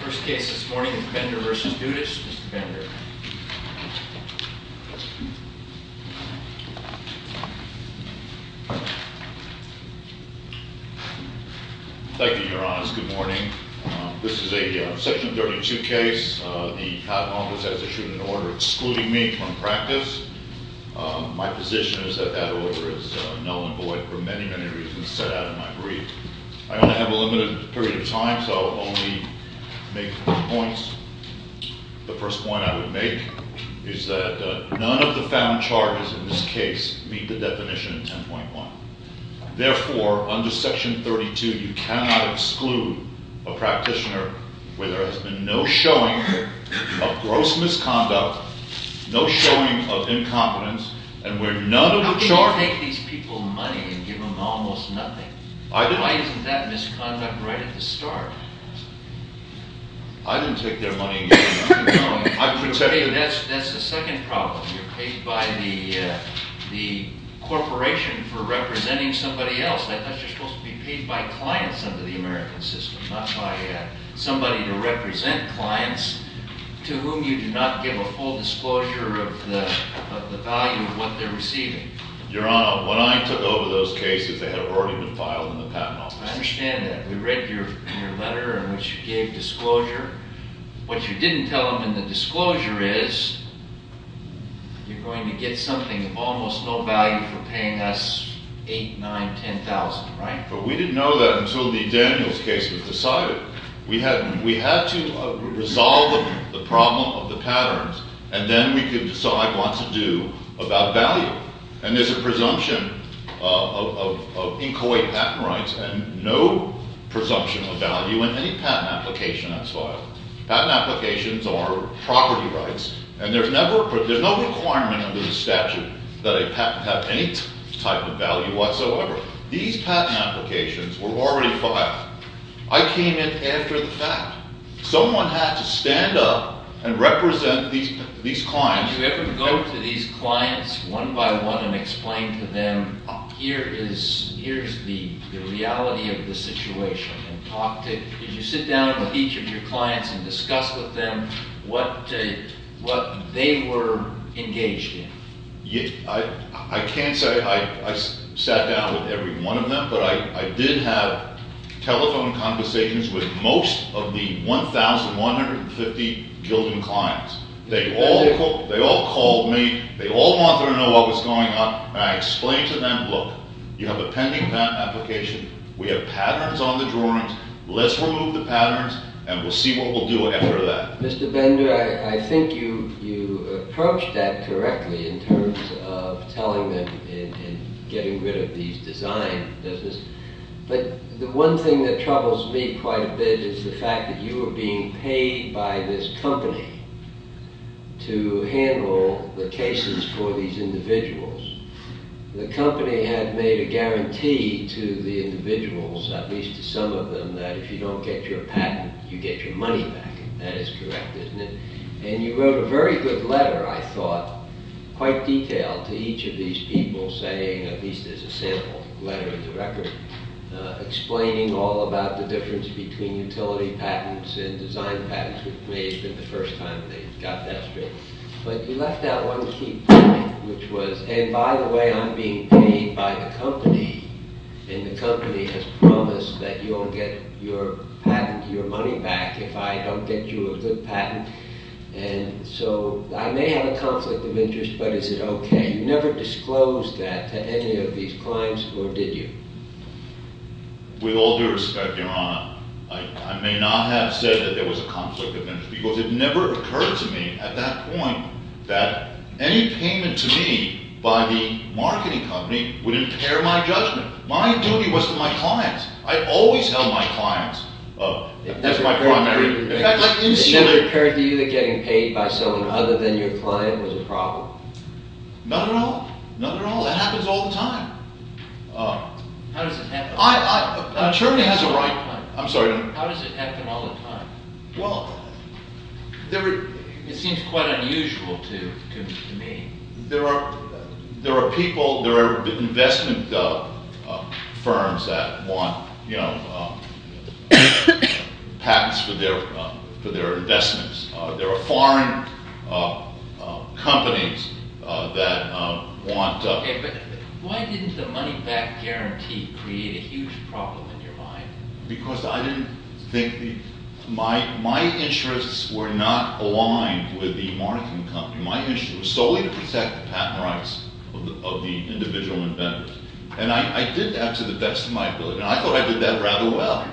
First case this morning is Bender v. Dudas. Mr. Bender. Thank you, Your Honors. Good morning. This is a Section 32 case. The Congress has issued an order excluding me from practice. My position is that that order is null and void for many, many reasons set out in my brief. I only have a limited period of time, so I'll only make two points. The first point I would make is that none of the found charges in this case meet the definition in 10.1. Therefore, under Section 32, you cannot exclude a practitioner where there has been no showing of gross misconduct, no showing of incompetence, and where none of the charges… How can you take these people's money and give them almost nothing? I didn't. Why isn't that misconduct right at the start? I didn't take their money. That's the second problem. You're paid by the corporation for representing somebody else. That's just supposed to be paid by clients under the American system, not by somebody to represent clients to whom you do not give a full disclosure of the value of what they're receiving. Your Honor, when I took over those cases, they had already been filed in the Patent Office. I understand that. We read your letter in which you gave disclosure. What you didn't tell them in the disclosure is you're going to get something of almost no value for paying us $8,000, $9,000, $10,000, right? But we didn't know that until the Daniels case was decided. We had to resolve the problem of the patterns, and then we could decide what to do about value. And there's a presumption of inchoate patent rights and no presumption of value in any patent application that's filed. Patent applications are property rights, and there's no requirement under the statute that a patent have any type of value whatsoever. These patent applications were already filed. I came in after the fact. Someone had to stand up and represent these clients. Did you ever go to these clients one by one and explain to them, here is the reality of the situation, and talk to – did you sit down with each of your clients and discuss with them what they were engaged in? I can't say I sat down with every one of them, but I did have telephone conversations with most of the 1,150 Gildan clients. They all called me. They all wanted to know what was going on, and I explained to them, look, you have a pending patent application. We have patterns on the drawings. Let's remove the patterns, and we'll see what we'll do after that. Mr. Bender, I think you approached that correctly in terms of telling them and getting rid of these design business, but the one thing that troubles me quite a bit is the fact that you were being paid by this company to handle the cases for these individuals. The company had made a guarantee to the individuals, at least to some of them, that if you don't get your patent, you get your money back. That is correct, isn't it? And you wrote a very good letter, I thought, quite detailed to each of these people, saying at least there's a sample letter in the record explaining all about the difference between utility patents and design patents, which may have been the first time they got that straight, but you left out one key point, which was, hey, by the way, I'm being paid by the company, and the company has promised that you'll get your patent, your money back if I don't get you a good patent, and so I may have a conflict of interest, but is it okay? You never disclosed that to any of these clients, or did you? With all due respect, Your Honor, I may not have said that there was a conflict of interest, because it never occurred to me at that point that any payment to me by the marketing company would impair my judgment. My duty was to my clients. I always held my clients as my primary… It never occurred to you that getting paid by someone other than your client was a problem? None at all. None at all. It happens all the time. How does it happen all the time? Attorney has a right… I'm sorry. How does it happen all the time? Well, there are… It seems quite unusual to me. There are people, there are investment firms that want, you know, patents for their investments. There are foreign companies that want… Okay, but why didn't the money back guarantee create a huge problem in your mind? Because I didn't think the… My interests were not aligned with the marketing company. My interest was solely to protect the patent rights of the individual investors, and I did that to the best of my ability, and I thought I did that rather well.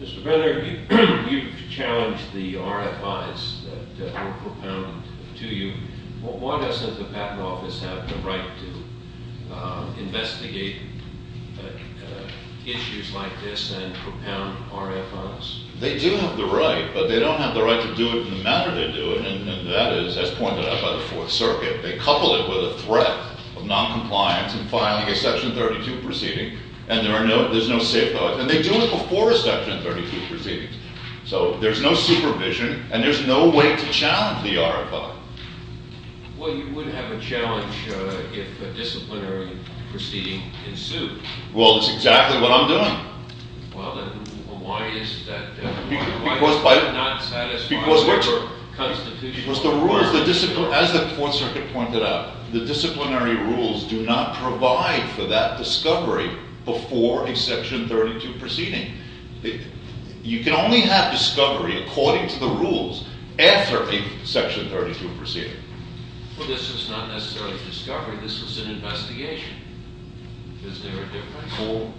Mr. Benner, you've challenged the RFIs that were propounded to you. Why doesn't the patent office have the right to investigate issues like this and propound RFIs? They do have the right, but they don't have the right to do it in the manner they do it, and that is, as pointed out by the Fourth Circuit, they couple it with a threat of noncompliance in filing a Section 32 proceeding, and there's no safe house, and they do it before a Section 32 proceeding. So there's no supervision, and there's no way to challenge the RFI. Well, you would have a challenge if a disciplinary proceeding ensued. Well, that's exactly what I'm doing. Well, then, why is that? Because the rules, as the Fourth Circuit pointed out, the disciplinary rules do not provide for that discovery before a Section 32 proceeding. You can only have discovery according to the rules after a Section 32 proceeding. Well, this was not necessarily a discovery. This was an investigation. Is there a difference?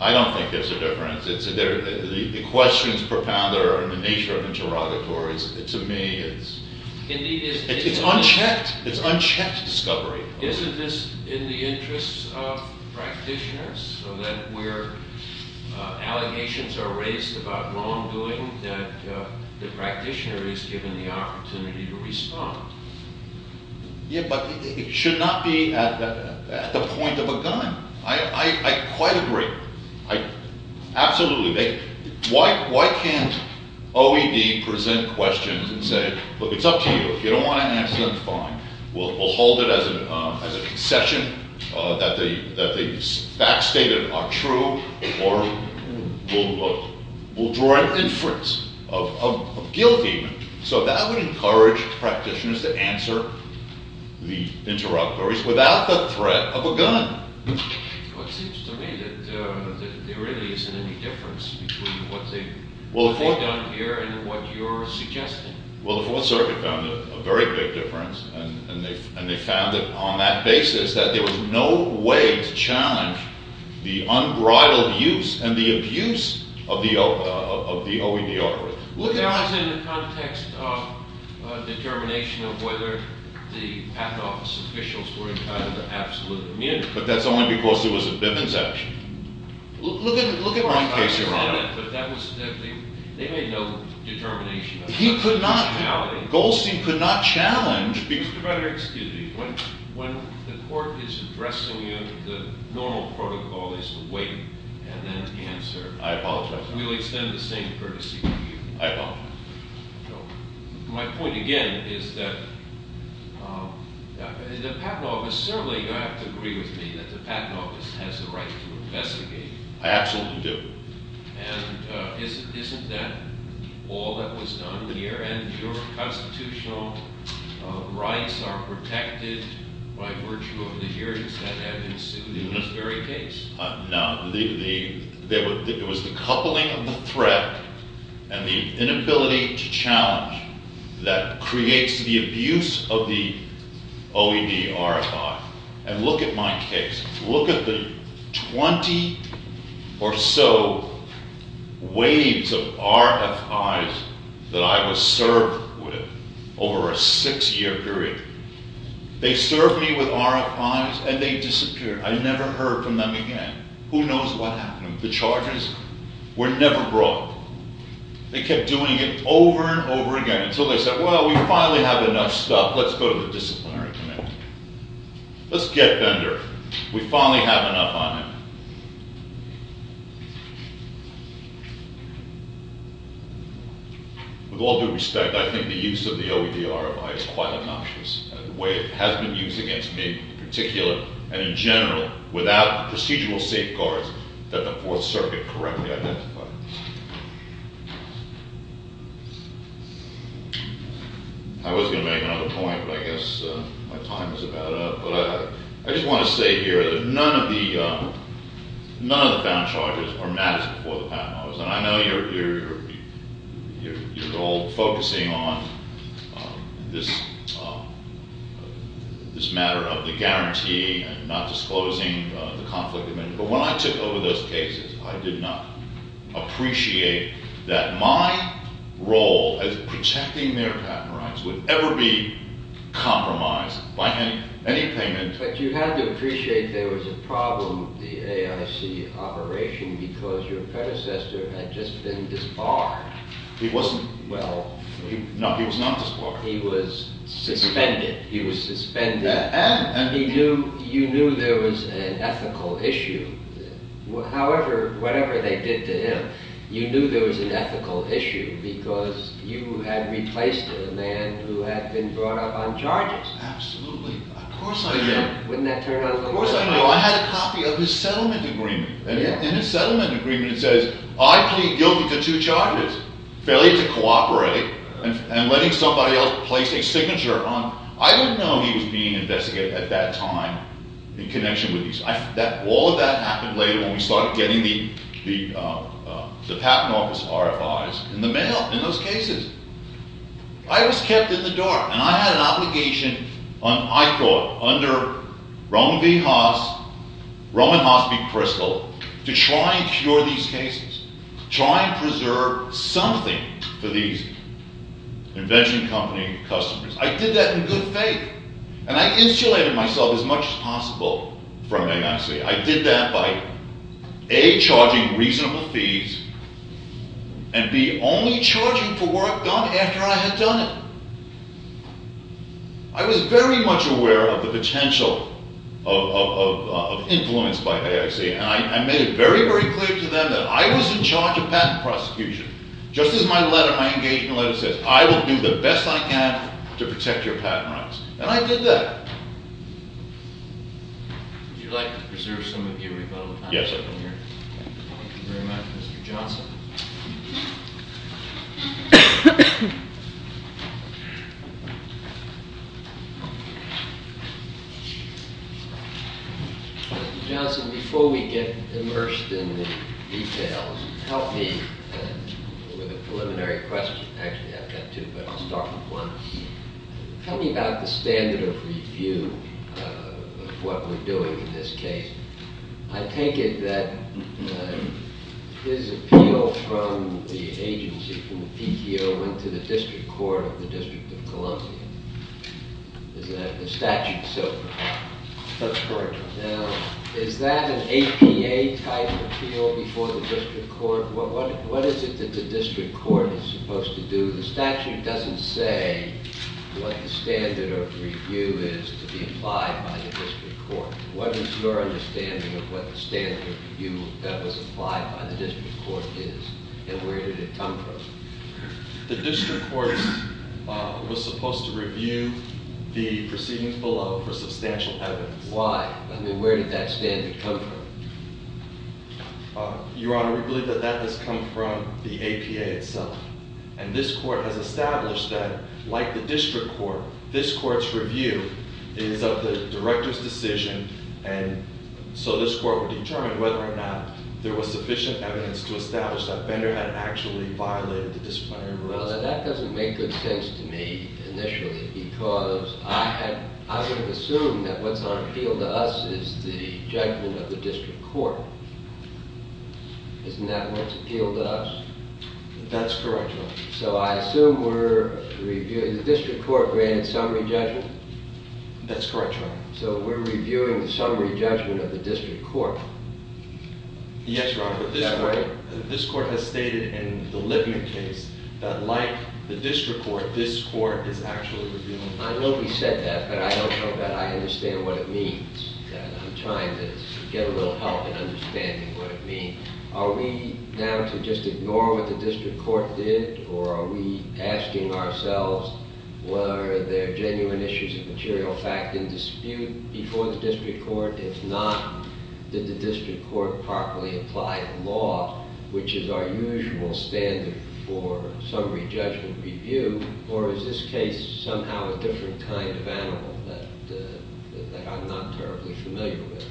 I don't think there's a difference. The questions propounded are in the nature of interrogatories. To me, it's unchecked. It's unchecked discovery. Isn't this in the interests of practitioners, so that where allegations are raised about wrongdoing, that the practitioner is given the opportunity to respond? Yeah, but it should not be at the point of a gun. I quite agree. Absolutely. Why can't OED present questions and say, look, it's up to you, if you don't want to answer, that's fine. We'll hold it as a concession that the facts stated are true, or we'll draw an inference of guilt even. So that would encourage practitioners to answer the interrogatories without the threat of a gun. Well, it seems to me that there really isn't any difference between what they've done here and what you're suggesting. Well, the Fourth Circuit found a very big difference, and they found that on that basis that there was no way to challenge the unbridled use and the abuse of the OED order. There was in the context of determination of whether the patent office officials were entitled to absolute immunity. But that's only because there was a Bivens action. Look at my case, Your Honor. They made no determination of that functionality. Goldstein could not challenge. Mr. Predator, excuse me. When the court is addressing you, the normal protocol is to wait and then answer. I apologize. We'll extend the same courtesy to you. I apologize. My point, again, is that the patent office—certainly you'll have to agree with me that the patent office has the right to investigate. I absolutely do. And isn't that all that was done here? And your constitutional rights are protected by virtue of the hearings that have ensued in this very case. No. It was the coupling of the threat and the inability to challenge that creates the abuse of the OED RFI. And look at my case. Look at the 20 or so waves of RFIs that I was served with over a six-year period. They served me with RFIs, and they disappeared. I never heard from them again. Who knows what happened? The charges were never brought. They kept doing it over and over again until they said, well, we finally have enough stuff. Let's go to the disciplinary committee. Let's get Bender. We finally have enough on him. With all due respect, I think the use of the OED RFI is quite obnoxious. The way it has been used against me in particular and in general without procedural safeguards that the Fourth Circuit correctly identified. I was going to make another point, but I guess my time is about up. But I just want to say here that none of the found charges are matched before the patent office. And I know you're all focusing on this matter of the guarantee and not disclosing the conflict of interest. But when I took over those cases, I did not appreciate that my role as protecting their patent rights would ever be compromised by any payment. But you had to appreciate there was a problem with the AIC operation because your predecessor had just been disbarred. He wasn't. Well. No, he was not disbarred. He was suspended. He was suspended. And? You knew there was an ethical issue. However, whatever they did to him, you knew there was an ethical issue because you had replaced a man who had been brought up on charges. Absolutely. Of course I did. Of course I knew. I had a copy of his settlement agreement. And in his settlement agreement, it says, I plead guilty to two charges, failure to cooperate and letting somebody else place a signature on. I didn't know he was being investigated at that time in connection with these. All of that happened later when we started getting the patent office RFIs in the mail in those cases. I was kept in the dark. And I had an obligation, I thought, under Roman V. Haas, Roman Haas v. Kristol, to try and cure these cases, try and preserve something for these invention company customers. I did that in good faith. And I insulated myself as much as possible from AIC. I did that by A, charging reasonable fees, and B, only charging for work done after I had done it. I was very much aware of the potential of influence by AIC, and I made it very, very clear to them that I was in charge of patent prosecution. Just as my letter, my engagement letter says, I will do the best I can to protect your patent rights. And I did that. Would you like to preserve some of your rebuttal? Yes. Thank you very much, Mr. Johnson. Mr. Johnson, before we get immersed in the details, help me with a preliminary question. Actually, I've got two, but I'll start with one. Tell me about the standard of review of what we're doing in this case. I take it that his appeal from the agency, from the PTO, went to the district court of the District of Columbia. Is that the statute so far? That's correct. Now, is that an APA-type appeal before the district court? What is it that the district court is supposed to do? The statute doesn't say what the standard of review is to be applied by the district court. What is your understanding of what the standard of review that was applied by the district court is, and where did it come from? The district court was supposed to review the proceedings below for substantial evidence. Why? I mean, where did that standard come from? Your Honor, we believe that that has come from the APA itself. And this court has established that, like the district court, this court's review is of the director's decision, and so this court would determine whether or not there was sufficient evidence to establish that Bender had actually violated the disciplinary rules. Well, that doesn't make good sense to me, initially, because I would have assumed that what's on appeal to us is the judgment of the district court. Isn't that what's appealed to us? That's correct, Your Honor. So I assume we're reviewing – the district court granted summary judgment? That's correct, Your Honor. So we're reviewing the summary judgment of the district court? Yes, Your Honor. Is that right? This court has stated in the Lipman case that, like the district court, this court is actually reviewing. I know he said that, but I don't know that I understand what it means. I'm trying to get a little help in understanding what it means. Are we now to just ignore what the district court did, or are we asking ourselves, were there genuine issues of material fact in dispute before the district court? If not, did the district court properly apply law, which is our usual standard for summary judgment review, or is this case somehow a different kind of animal that I'm not terribly familiar with?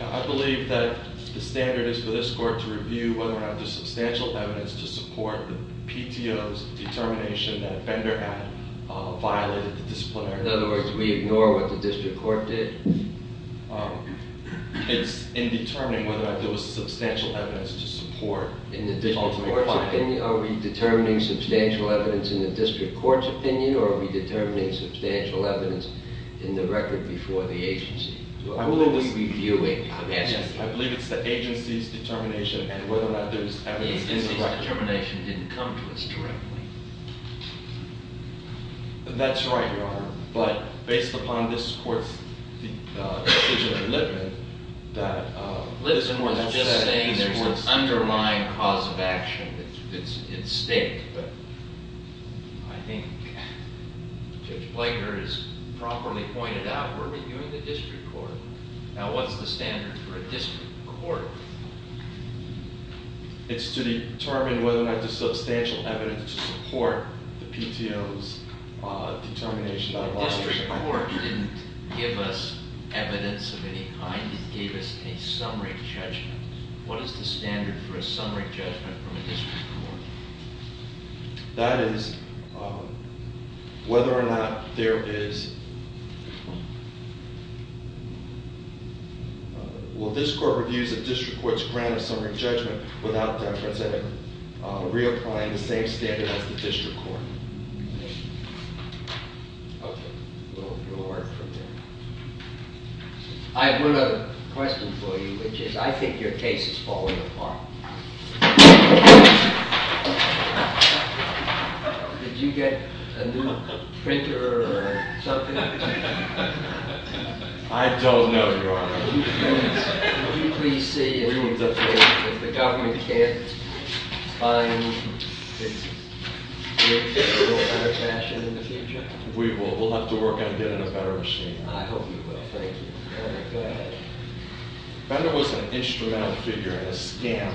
I believe that the standard is for this court to review whether or not there's substantial evidence to support the PTO's determination that offender had violated the disciplinarity. In other words, we ignore what the district court did? It's in determining whether or not there was substantial evidence to support – In the district court's opinion, are we determining substantial evidence in the district court's opinion, or are we determining substantial evidence in the record before the agency? Who are we reviewing? I believe it's the agency's determination and whether or not there's evidence in the record. The agency's determination didn't come to us directly. That's right, Your Honor. But based upon this court's decision in Lippman that – Lippman was just saying there's an underlying cause of action that's at stake. I think Judge Blaker has properly pointed out we're reviewing the district court. Now, what's the standard for a district court? It's to determine whether or not there's substantial evidence to support the PTO's determination that – The district court didn't give us evidence of any kind. It gave us a summary judgment. What is the standard for a summary judgment from a district court? That is whether or not there is – Well, this court reviews a district court's grant of summary judgment without them presenting – reapplying the same standard as the district court. Okay. We'll work from there. I have one other question for you, which is I think your case is falling apart. Did you get a new printer or something? I don't know, Your Honor. Will you please see if the government can't find a little better fashion in the future? We will. We'll have to work on getting a better machine. I hope you will. Thank you. Go ahead. Bender was an instrumental figure in a scam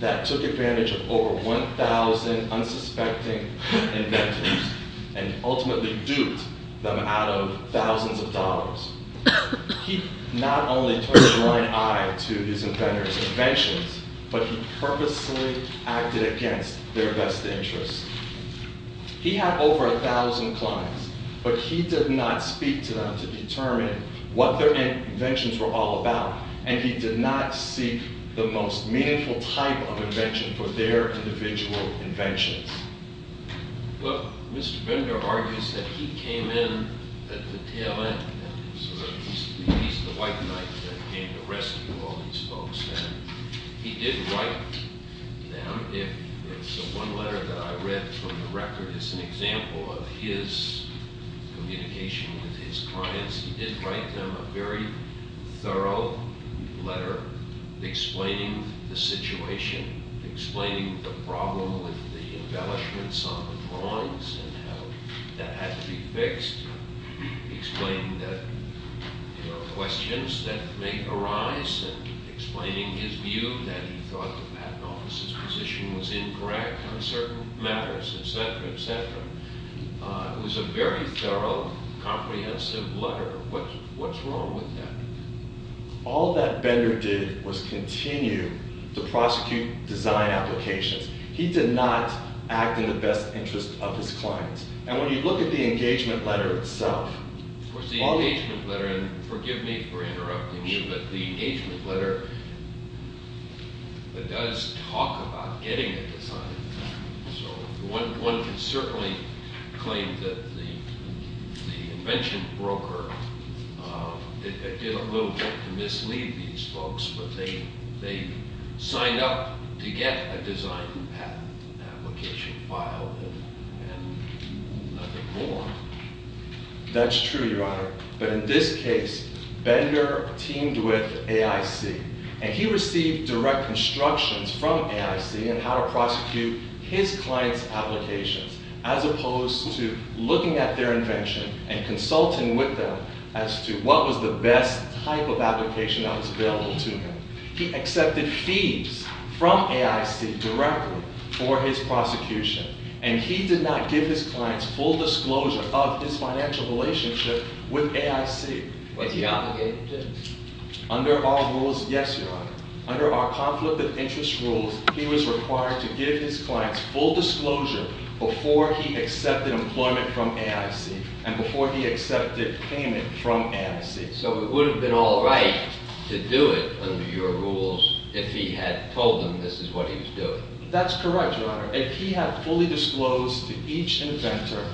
that took advantage of over 1,000 unsuspecting inventors and ultimately duped them out of thousands of dollars. He not only turned a blind eye to these inventors' inventions, but he purposely acted against their best interests. He had over 1,000 clients, but he did not speak to them to determine what their inventions were all about, and he did not seek the most meaningful type of invention for their individual inventions. Well, Mr. Bender argues that he came in at the tail end. He's the white knight that came to rescue all these folks. He did write them. One letter that I read from the record is an example of his communication with his clients. He did write them a very thorough letter explaining the situation, explaining the problem with the embellishments on the lawns and how that had to be fixed, explaining that there are questions that may arise, and explaining his view that he thought the patent office's position was incorrect on certain matters, etc., etc. It was a very thorough, comprehensive letter. What's wrong with that? All that Bender did was continue to prosecute design applications. He did not act in the best interest of his clients. And when you look at the engagement letter itself... Of course, the engagement letter, and forgive me for interrupting you, but the engagement letter does talk about getting a design patent. One can certainly claim that the invention broker did a little bit to mislead these folks, but they signed up to get a design patent application filed, and nothing more. That's true, Your Honor. But in this case, Bender teamed with AIC, and he received direct instructions from AIC on how to prosecute his clients' applications, as opposed to looking at their invention and consulting with them as to what was the best type of application that was available to him. He accepted fees from AIC directly for his prosecution, and he did not give his clients full disclosure of his financial relationship with AIC. Was he obligated to? Under all rules, yes, Your Honor. Under our conflict of interest rules, he was required to give his clients full disclosure before he accepted employment from AIC and before he accepted payment from AIC. So it would have been all right to do it under your rules if he had told them this is what he was doing. That's correct, Your Honor. If he had fully disclosed to each inventor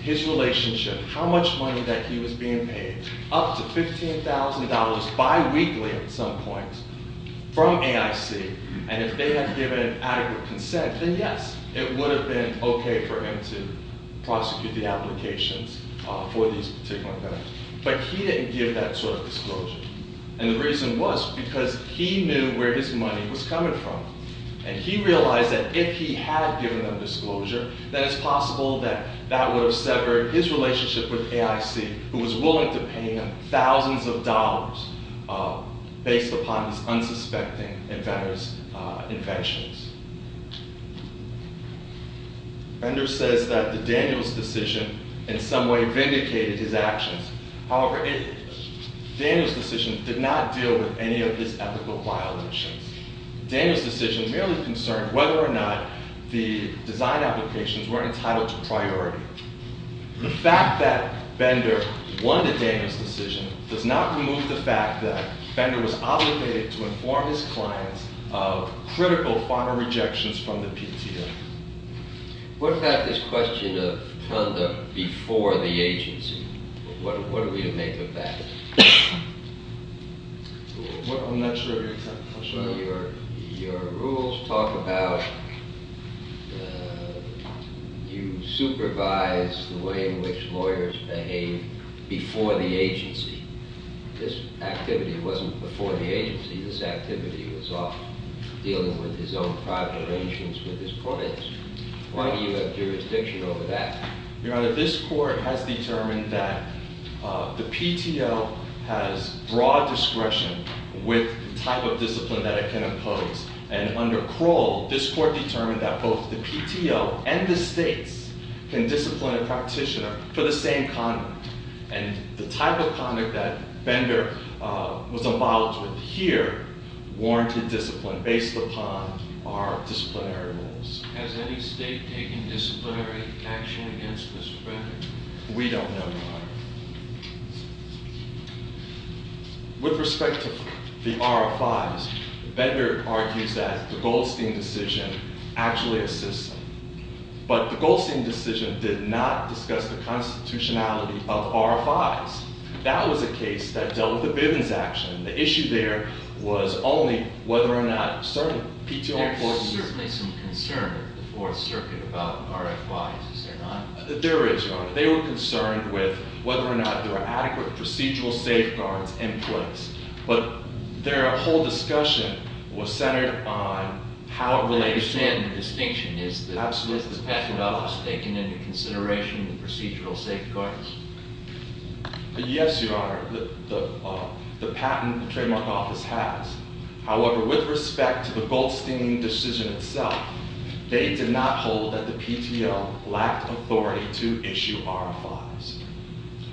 his relationship, how much money that he was being paid, up to $15,000 biweekly at some point from AIC, and if they had given adequate consent, then yes, it would have been okay for him to prosecute the applications for these particular inventors. But he didn't give that sort of disclosure. And the reason was because he knew where his money was coming from, and he realized that if he had given them disclosure, then it's possible that that would have severed his relationship with AIC, who was willing to pay him thousands of dollars based upon his unsuspecting inventors' inventions. Bender says that Daniel's decision in some way vindicated his actions. However, Daniel's decision did not deal with any of his ethical violations. Daniel's decision merely concerned whether or not the design applications were entitled to priority. The fact that Bender won the Daniel's decision does not remove the fact that Bender was obligated to inform his clients of critical final rejections from the PTA. What about this question of conduct before the agency? What are we to make of that? I'm not sure I can answer that. Your rules talk about you supervise the way in which lawyers behave before the agency. This activity wasn't before the agency. This activity was off dealing with his own private arrangements with his clients. Why do you have jurisdiction over that? Your Honor, this court has determined that the PTO has broad discretion with the type of discipline that it can impose. And under Kroll, this court determined that both the PTO and the states can discipline a practitioner for the same conduct. And the type of conduct that Bender was allowed to adhere warranted discipline based upon our disciplinary rules. Has any state taken disciplinary action against this record? We don't know, Your Honor. With respect to the RFIs, Bender argues that the Goldstein decision actually assists them. But the Goldstein decision did not discuss the constitutionality of RFIs. That was a case that dealt with the Bivens action. The issue there was only whether or not certain PTO employees... There's certainly some concern with the Fourth Circuit about RFIs, is there not? There is, Your Honor. They were concerned with whether or not there were adequate procedural safeguards in place. But their whole discussion was centered on how it relates to... Do you understand the distinction? Absolutely. Is the patent office taking into consideration the procedural safeguards? Yes, Your Honor. The patent trademark office has. However, with respect to the Goldstein decision itself, they did not hold that the PTO lacked authority to issue RFIs.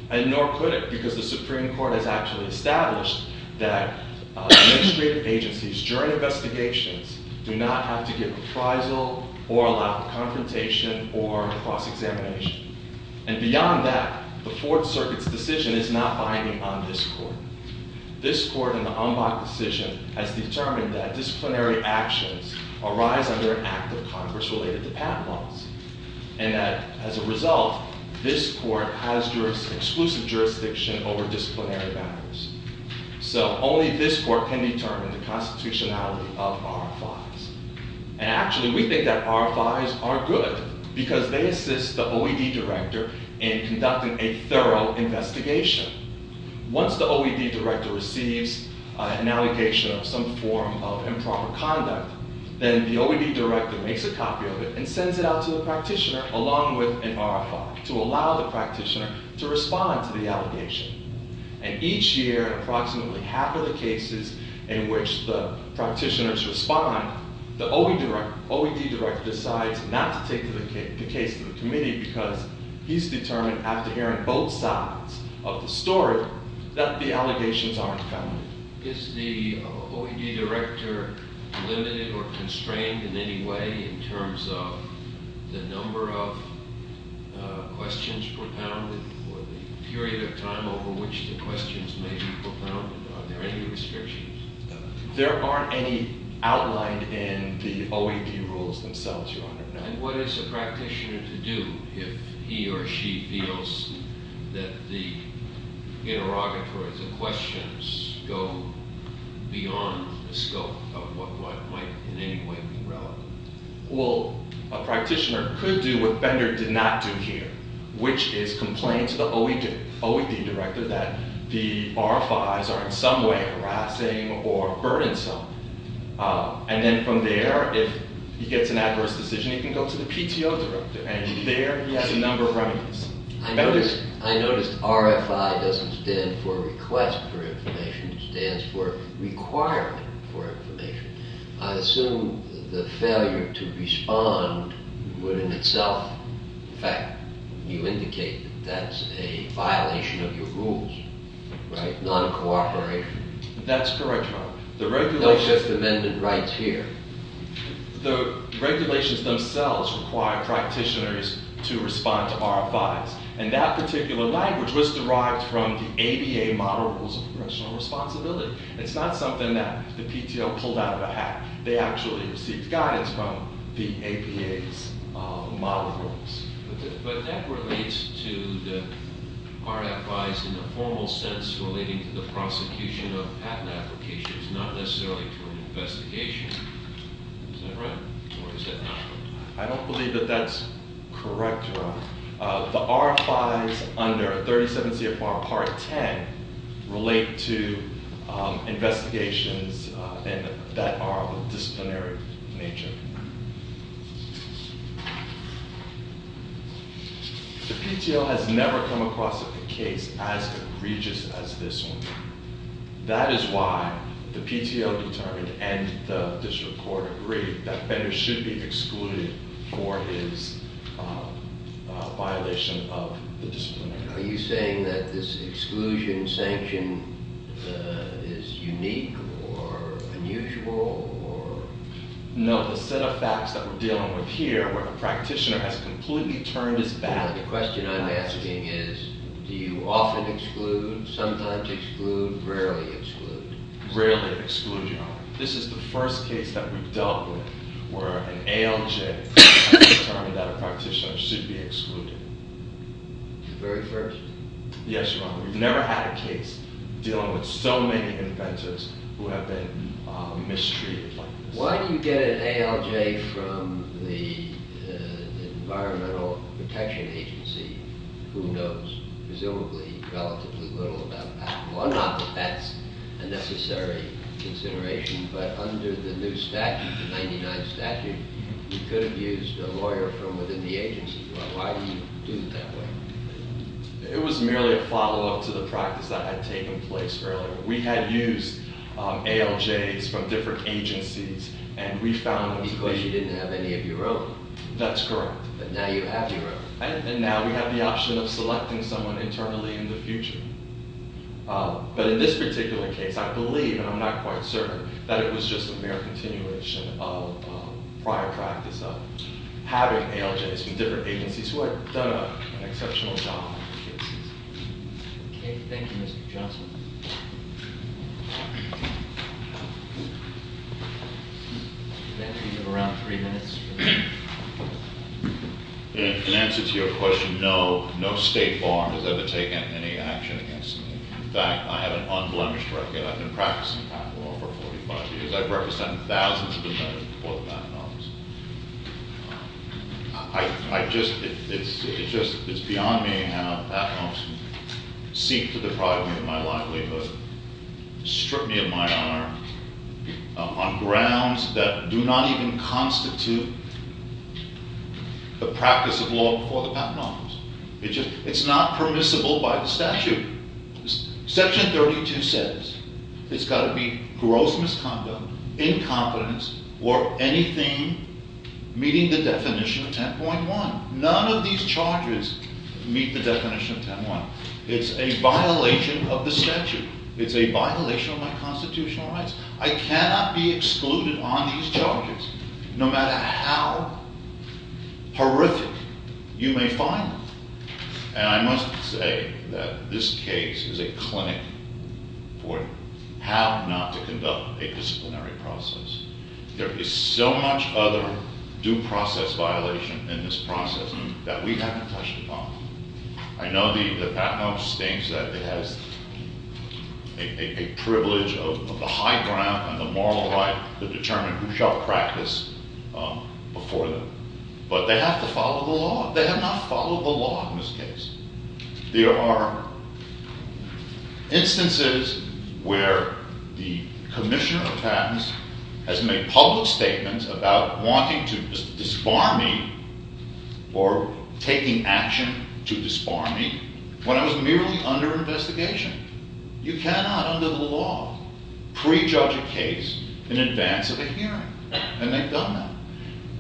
And nor could it, because the Supreme Court has actually established that administrative agencies, during investigations, do not have to give appraisal or allow confrontation or cross-examination. And beyond that, the Fourth Circuit's decision is not binding on this Court. This Court, in the Umbach decision, has determined that disciplinary actions arise under an act of Congress related to patent laws and that, as a result, this Court has exclusive jurisdiction over disciplinary matters. So only this Court can determine the constitutionality of RFIs. And actually, we think that RFIs are good because they assist the OED director in conducting a thorough investigation. Once the OED director receives an allegation of some form of improper conduct, then the OED director makes a copy of it and sends it out to the practitioner, along with an RFI, to allow the practitioner to respond to the allegation. And each year, in approximately half of the cases in which the practitioners respond, the OED director decides not to take the case to the committee because he's determined, after hearing both sides of the story, that the allegations aren't found. Is the OED director limited or constrained in any way in terms of the number of questions propounded or the period of time over which the questions may be propounded? Are there any restrictions? There aren't any outlined in the OED rules themselves, Your Honor. And what is a practitioner to do if he or she feels that the interrogatory questions go beyond the scope of what might in any way be relevant? Well, a practitioner could do what Bender did not do here, which is complain to the OED director that the RFIs are in some way harassing or burdensome. And then from there, if he gets an adverse decision, he can go to the PTO director. And there, he has a number of remedies. I noticed RFI doesn't stand for request for information. It stands for requirement for information. I assume the failure to respond would in itself affect. You indicate that that's a violation of your rules, right? Non-cooperation. That's correct, Your Honor. They're just amended right here. The regulations themselves require practitioners to respond to RFIs. And that particular language was derived from the ABA model rules of congressional responsibility. It's not something that the PTO pulled out of a hat. They actually received guidance from the ABA's model rules. But that relates to the RFIs in a formal sense relating to the prosecution of patent applications. It's not necessarily to an investigation. Is that right? Or is that not? I don't believe that that's correct, Your Honor. The RFIs under 37 CFR Part 10 relate to investigations that are of a disciplinary nature. The PTO has never come across a case as egregious as this one. That is why the PTO determined and the district court agreed that Fender should be excluded for his violation of the disciplinary act. Are you saying that this exclusion sanction is unique or unusual or? No, the set of facts that we're dealing with here where the practitioner has completely turned his back. The question I'm asking is do you often exclude, sometimes exclude, rarely exclude? Rarely exclude, Your Honor. This is the first case that we've dealt with where an ALJ has determined that a practitioner should be excluded. The very first? Yes, Your Honor. We've never had a case dealing with so many inventors who have been mistreated like this. Why do you get an ALJ from the Environmental Protection Agency who knows presumably relatively little about that? Well, not that that's a necessary consideration, but under the new statute, the 99th statute, you could have used a lawyer from within the agency. Why do you do it that way? It was merely a follow-up to the practice that had taken place earlier. We had used ALJs from different agencies, and we found them to be- Because you didn't have any of your own? That's correct. But now you have your own. And now we have the option of selecting someone internally in the future. But in this particular case, I believe, and I'm not quite certain, that it was just a mere continuation of prior practice of having ALJs from different agencies who had done an exceptional job. Okay, thank you, Mr. Johnson. You have around three minutes. In answer to your question, no state bar has ever taken any action against me. In fact, I have an unblemished record. I've been practicing patent law for 45 years. I've represented thousands of inventors before the Patent Office. It's beyond me how the Patent Office seek to deprive me of my livelihood, strip me of my honor, on grounds that do not even constitute the practice of law before the Patent Office. It's not permissible by the statute. Section 32 says it's got to be gross misconduct, incompetence, or anything meeting the definition of 10.1. None of these charges meet the definition of 10.1. It's a violation of the statute. It's a violation of my constitutional rights. I cannot be excluded on these charges, no matter how horrific you may find them. And I must say that this case is a clinic for how not to conduct a disciplinary process. There is so much other due process violation in this process that we haven't touched upon. I know the Patent Office thinks that it has a privilege of the high ground and the moral right to determine who shall practice before them. But they have to follow the law. They have not followed the law in this case. There are instances where the Commissioner of Patents has made public statements about wanting to disbar me or taking action to disbar me when I was merely under investigation. You cannot, under the law, prejudge a case in advance of a hearing. And they've done that.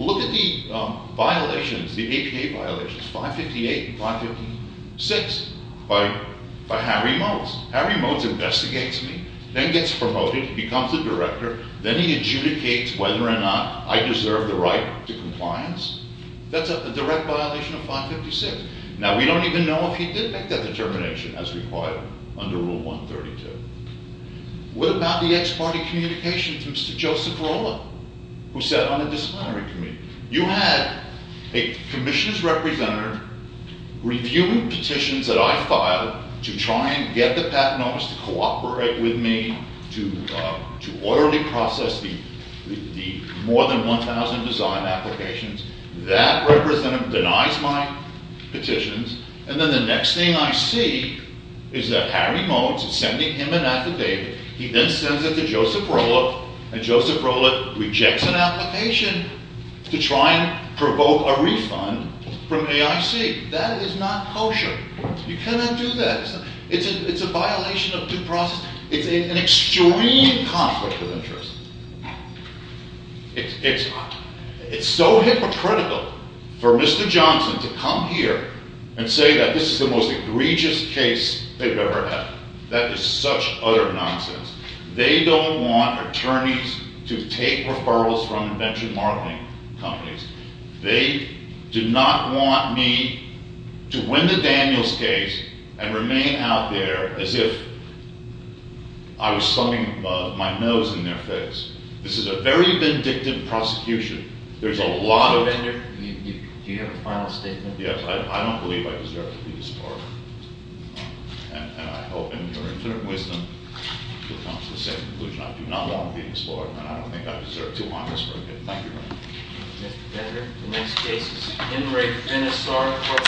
Look at the violations, the APA violations, 558 and 556, by Harry Modes. Harry Modes investigates me, then gets promoted, becomes the director. Then he adjudicates whether or not I deserve the right to compliance. That's a direct violation of 556. Now, we don't even know if he did make that determination as required under Rule 132. What about the ex-party communications, Mr. Joseph Lola, who sat on the disciplinary committee? You had a commissioner's representative reviewing petitions that I filed to try and get the Patent Office to cooperate with me to orderly process the more than 1,000 design applications. That representative denies my petitions. And then the next thing I see is that Harry Modes is sending him an affidavit. He then sends it to Joseph Lola, and Joseph Lola rejects an application to try and provoke a refund from AIC. That is not kosher. You cannot do that. It's a violation of due process. It's an extreme conflict of interest. It's so hypocritical for Mr. Johnson to come here and say that this is the most egregious case they've ever had. That is such utter nonsense. They don't want attorneys to take referrals from venture marketing companies. They do not want me to win the Daniels case and remain out there as if I was slumping my nose in their face. This is a very vindictive prosecution. There's a lot of- Mr. Bender, do you have a final statement? Yes. I don't believe I deserve to be disbarred. And I hope in your infinite wisdom you'll come to the same conclusion. I do not want to be disbarred, and I don't think I deserve to be disbarred. Thank you very much. Thank you, Mr. Bender. The next case is Henry Vinesar.